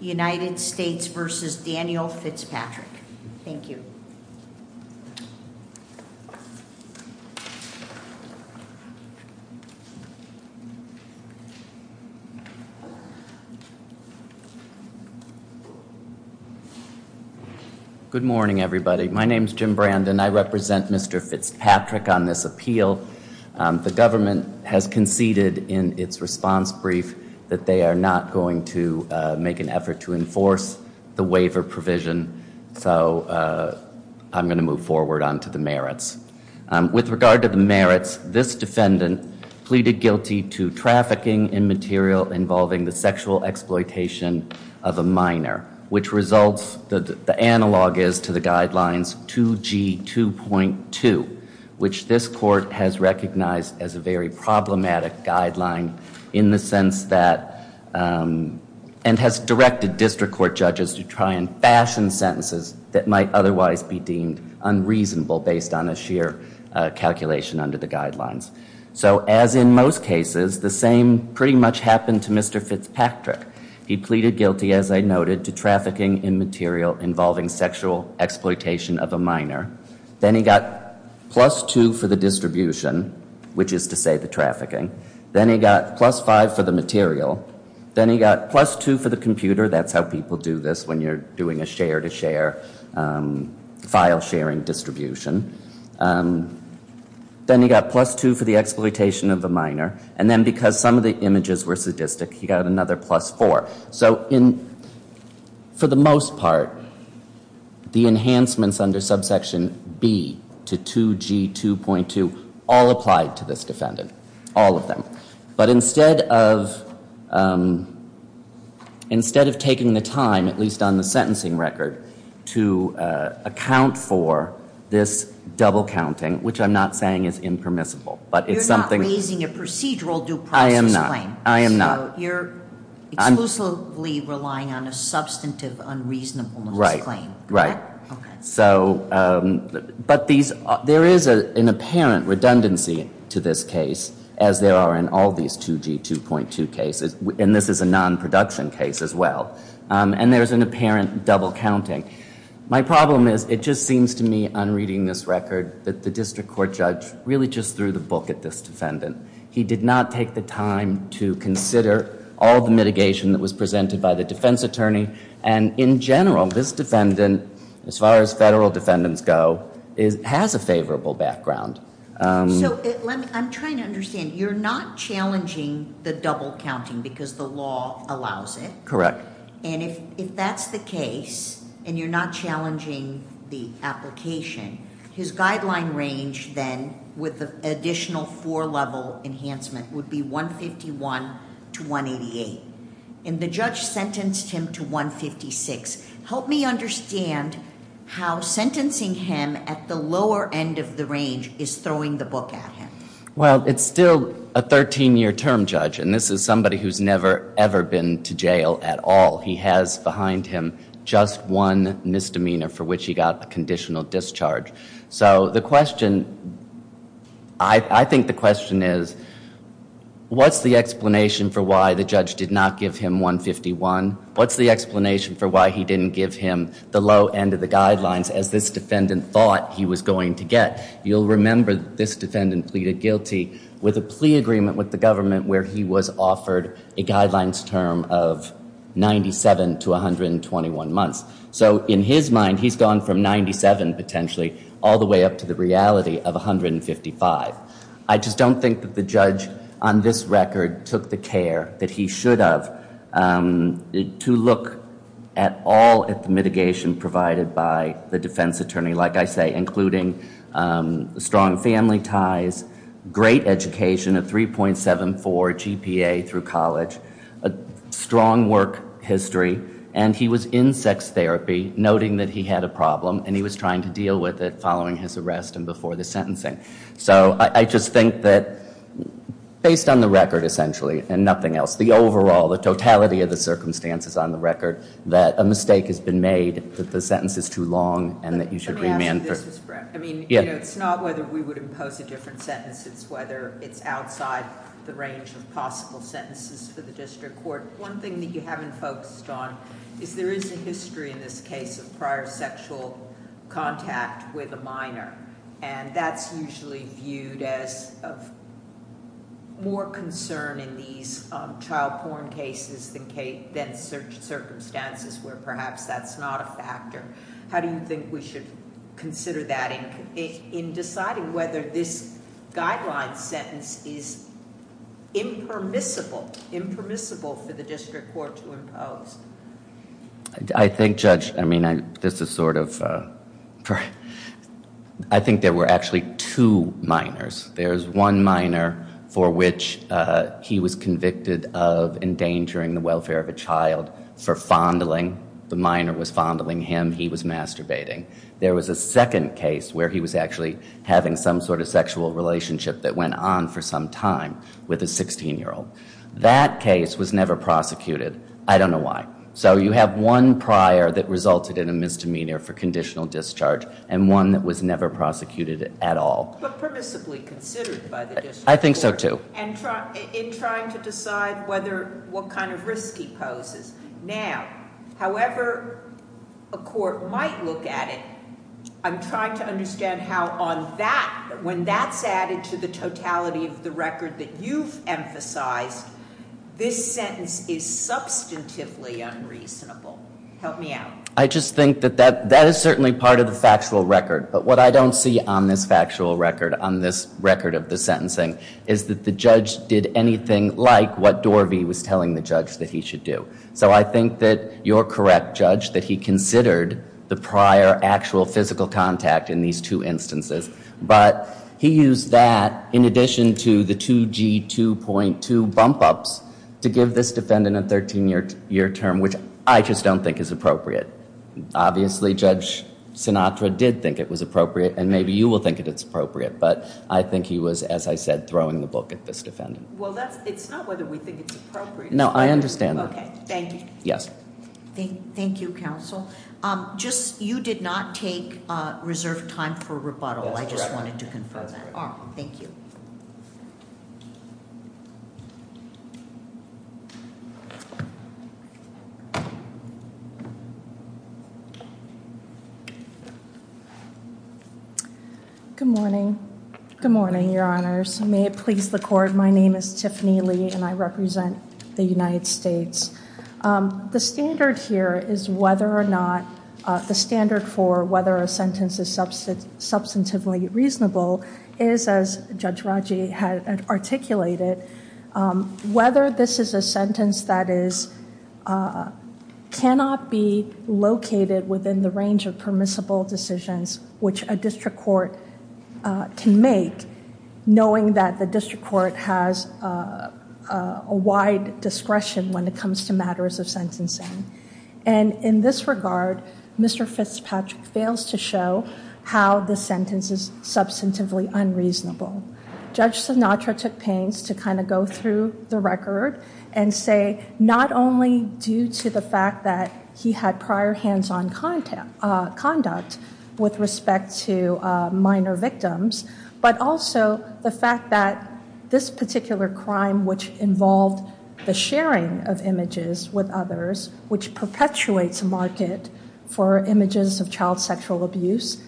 United States v. Daniel Fitzpatrick. Thank you. Good morning everybody. My name is Jim Brandon. I represent Mr. Fitzpatrick on this appeal. The government has conceded in its response brief that they are not going to make an effort to enforce the waiver provision. So I'm going to move forward on to the merits. With regard to the merits, this defendant pleaded guilty to trafficking in material involving the sexual exploitation of a minor, which results, the analog is to the guidelines, 2G 2.2, which this court has recognized as a very problematic guideline in the sense that, and has directed district court judges to try and fashion sentences that might otherwise be deemed unreasonable based on a sheer calculation under the guidelines. So as in most cases, the same pretty much happened to Mr. Fitzpatrick. He pleaded guilty, as I noted, to trafficking in material involving sexual exploitation of a minor. Then he got plus two for the distribution, which is to say the trafficking. Then he got plus five for the material. Then he got plus two for the computer. That's how people do this when you're doing a share to share file sharing distribution. Then he got plus two for the exploitation of a minor. And then because some of the images were sadistic, he got another plus four. So for the most part, the enhancements under subsection B to 2G 2.2 all applied to this defendant, all of them. But instead of taking the time, at least on the sentencing record, to account for this double counting, which I'm not saying is impermissible. You're not raising a procedural due process claim. I am not. You're exclusively relying on a substantive unreasonableness claim. Right. But there is an apparent redundancy to this case, as there are in all these 2G 2.2 cases. And this is a non-production case as well. And there's an apparent double counting. My problem is it just seems to me, on reading this record, that the district court judge really just threw the book at this defendant. He did not take the time to consider all the mitigation that was presented by the defense attorney. And in general, this defendant, as far as federal defendants go, has a favorable background. So I'm trying to understand. You're not challenging the double counting because the law allows it? Correct. And if that's the case, and you're not challenging the application, his guideline range then, with the additional four-level enhancement, would be 151 to 188. And the judge sentenced him to 156. Help me understand how sentencing him at the lower end of the range is throwing the book at him. Well, it's still a 13-year term judge. And this is somebody who's never, ever been to jail at all. He has behind him just one misdemeanor for which he got a conditional discharge. So the question, I think the question is, what's the explanation for why the judge did not give him 151? What's the explanation for why he didn't give him the low end of the guidelines as this defendant thought he was going to get? You'll remember that this defendant pleaded guilty with a plea agreement with the government where he was offered a guidelines term of 97 to 121 months. So in his mind, he's gone from 97, potentially, all the way up to the reality of 155. I just don't think that the judge on this record took the care that he should have to look at all of the mitigation provided by the defense attorney, like I say, including strong family ties, great education, a 3.74 GPA through college, a strong work history. And he was in sex therapy, noting that he had a problem. And he was trying to deal with it following his arrest and before the sentencing. So I just think that based on the record, essentially, and nothing else, the overall, the totality of the circumstances on the record, that a mistake has been made, that the sentence is too long, and that you should remand. Let me ask you this, Mr. Brown. I mean, it's not whether we would impose a different sentence. It's whether it's outside the range of possible sentences for the district court. One thing that you haven't focused on is there is a history in this case of prior sexual contact with a minor. And that's usually viewed as of more concern in these child porn cases than circumstances where perhaps that's not a factor. How do you think we should consider that in deciding whether this guideline sentence is impermissible, impermissible for the district court to impose? I think, Judge, I mean, this is sort of, I think there were actually two minors. There's one minor for which he was convicted of endangering the welfare of a child for fondling. The minor was fondling him. He was masturbating. There was a second case where he was actually having some sort of sexual relationship that went on for some time with a 16-year-old. That case was never prosecuted. I don't know why. So you have one prior that resulted in a misdemeanor for conditional discharge and one that was never prosecuted at all. But permissibly considered by the district court. I think so, too. In trying to decide what kind of risk he poses now, however a court might look at it, I'm trying to understand how on that, when that's added to the totality of the record that you've emphasized, this sentence is substantively unreasonable. Help me out. I just think that that is certainly part of the factual record. But what I don't see on this factual record, on this record of the sentencing, is that the judge did anything like what Dorvey was telling the judge that he should do. So I think that you're correct, Judge, that he considered the prior actual physical contact in these two instances. But he used that in addition to the 2G2.2 bump-ups to give this defendant a 13-year term, which I just don't think is appropriate. Obviously, Judge Sinatra did think it was appropriate, and maybe you will think that it's appropriate. But I think he was, as I said, throwing the book at this defendant. Well, it's not whether we think it's appropriate. No, I understand that. Okay, thank you. Yes. Thank you, counsel. You did not take reserved time for rebuttal. I just wanted to confirm that. Thank you. Good morning. Good morning, Your Honors. May it please the Court, my name is Tiffany Lee, and I represent the United States. The standard here is whether or not the standard for whether a sentence is substantively reasonable is, as Judge Raji had articulated, whether this is a sentence that cannot be located within the range of permissible decisions which a district court can make, knowing that the district court has a wide discretion when it comes to matters of sentencing. And in this regard, Mr. Fitzpatrick fails to show how the sentence is substantively unreasonable. Judge Sinatra took pains to kind of go through the record and say not only due to the fact that he had prior hands-on conduct with respect to minor victims, but also the fact that this particular crime, which involved the sharing of images with others, which perpetuates a market for images of child sexual abuse,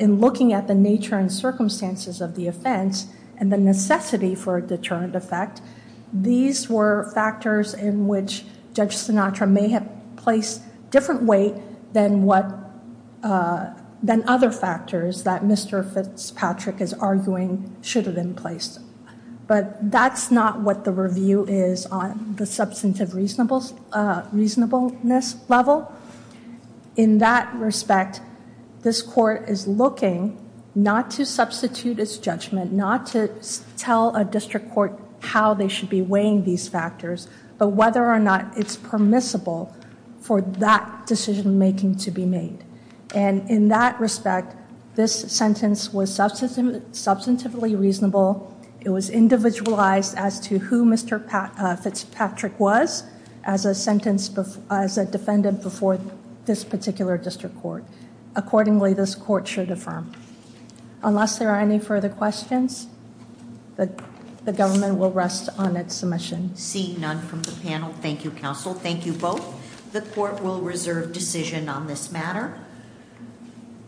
in looking at the nature and circumstances of the offense and the necessity for a deterrent effect, these were factors in which Judge Sinatra may have placed different weight than other factors that Mr. Fitzpatrick is arguing should have been placed. But that's not what the review is on the substantive reasonableness level. In that respect, this Court is looking not to substitute its judgment, not to tell a district court how they should be weighing these factors, but whether or not it's permissible for that decision-making to be made. And in that respect, this sentence was substantively reasonable. It was individualized as to who Mr. Fitzpatrick was as a defendant before this particular district court. Accordingly, this Court should affirm. Unless there are any further questions, the government will rest on its submission. Seeing none from the panel, thank you, counsel. Thank you both. The Court will reserve decision on this matter.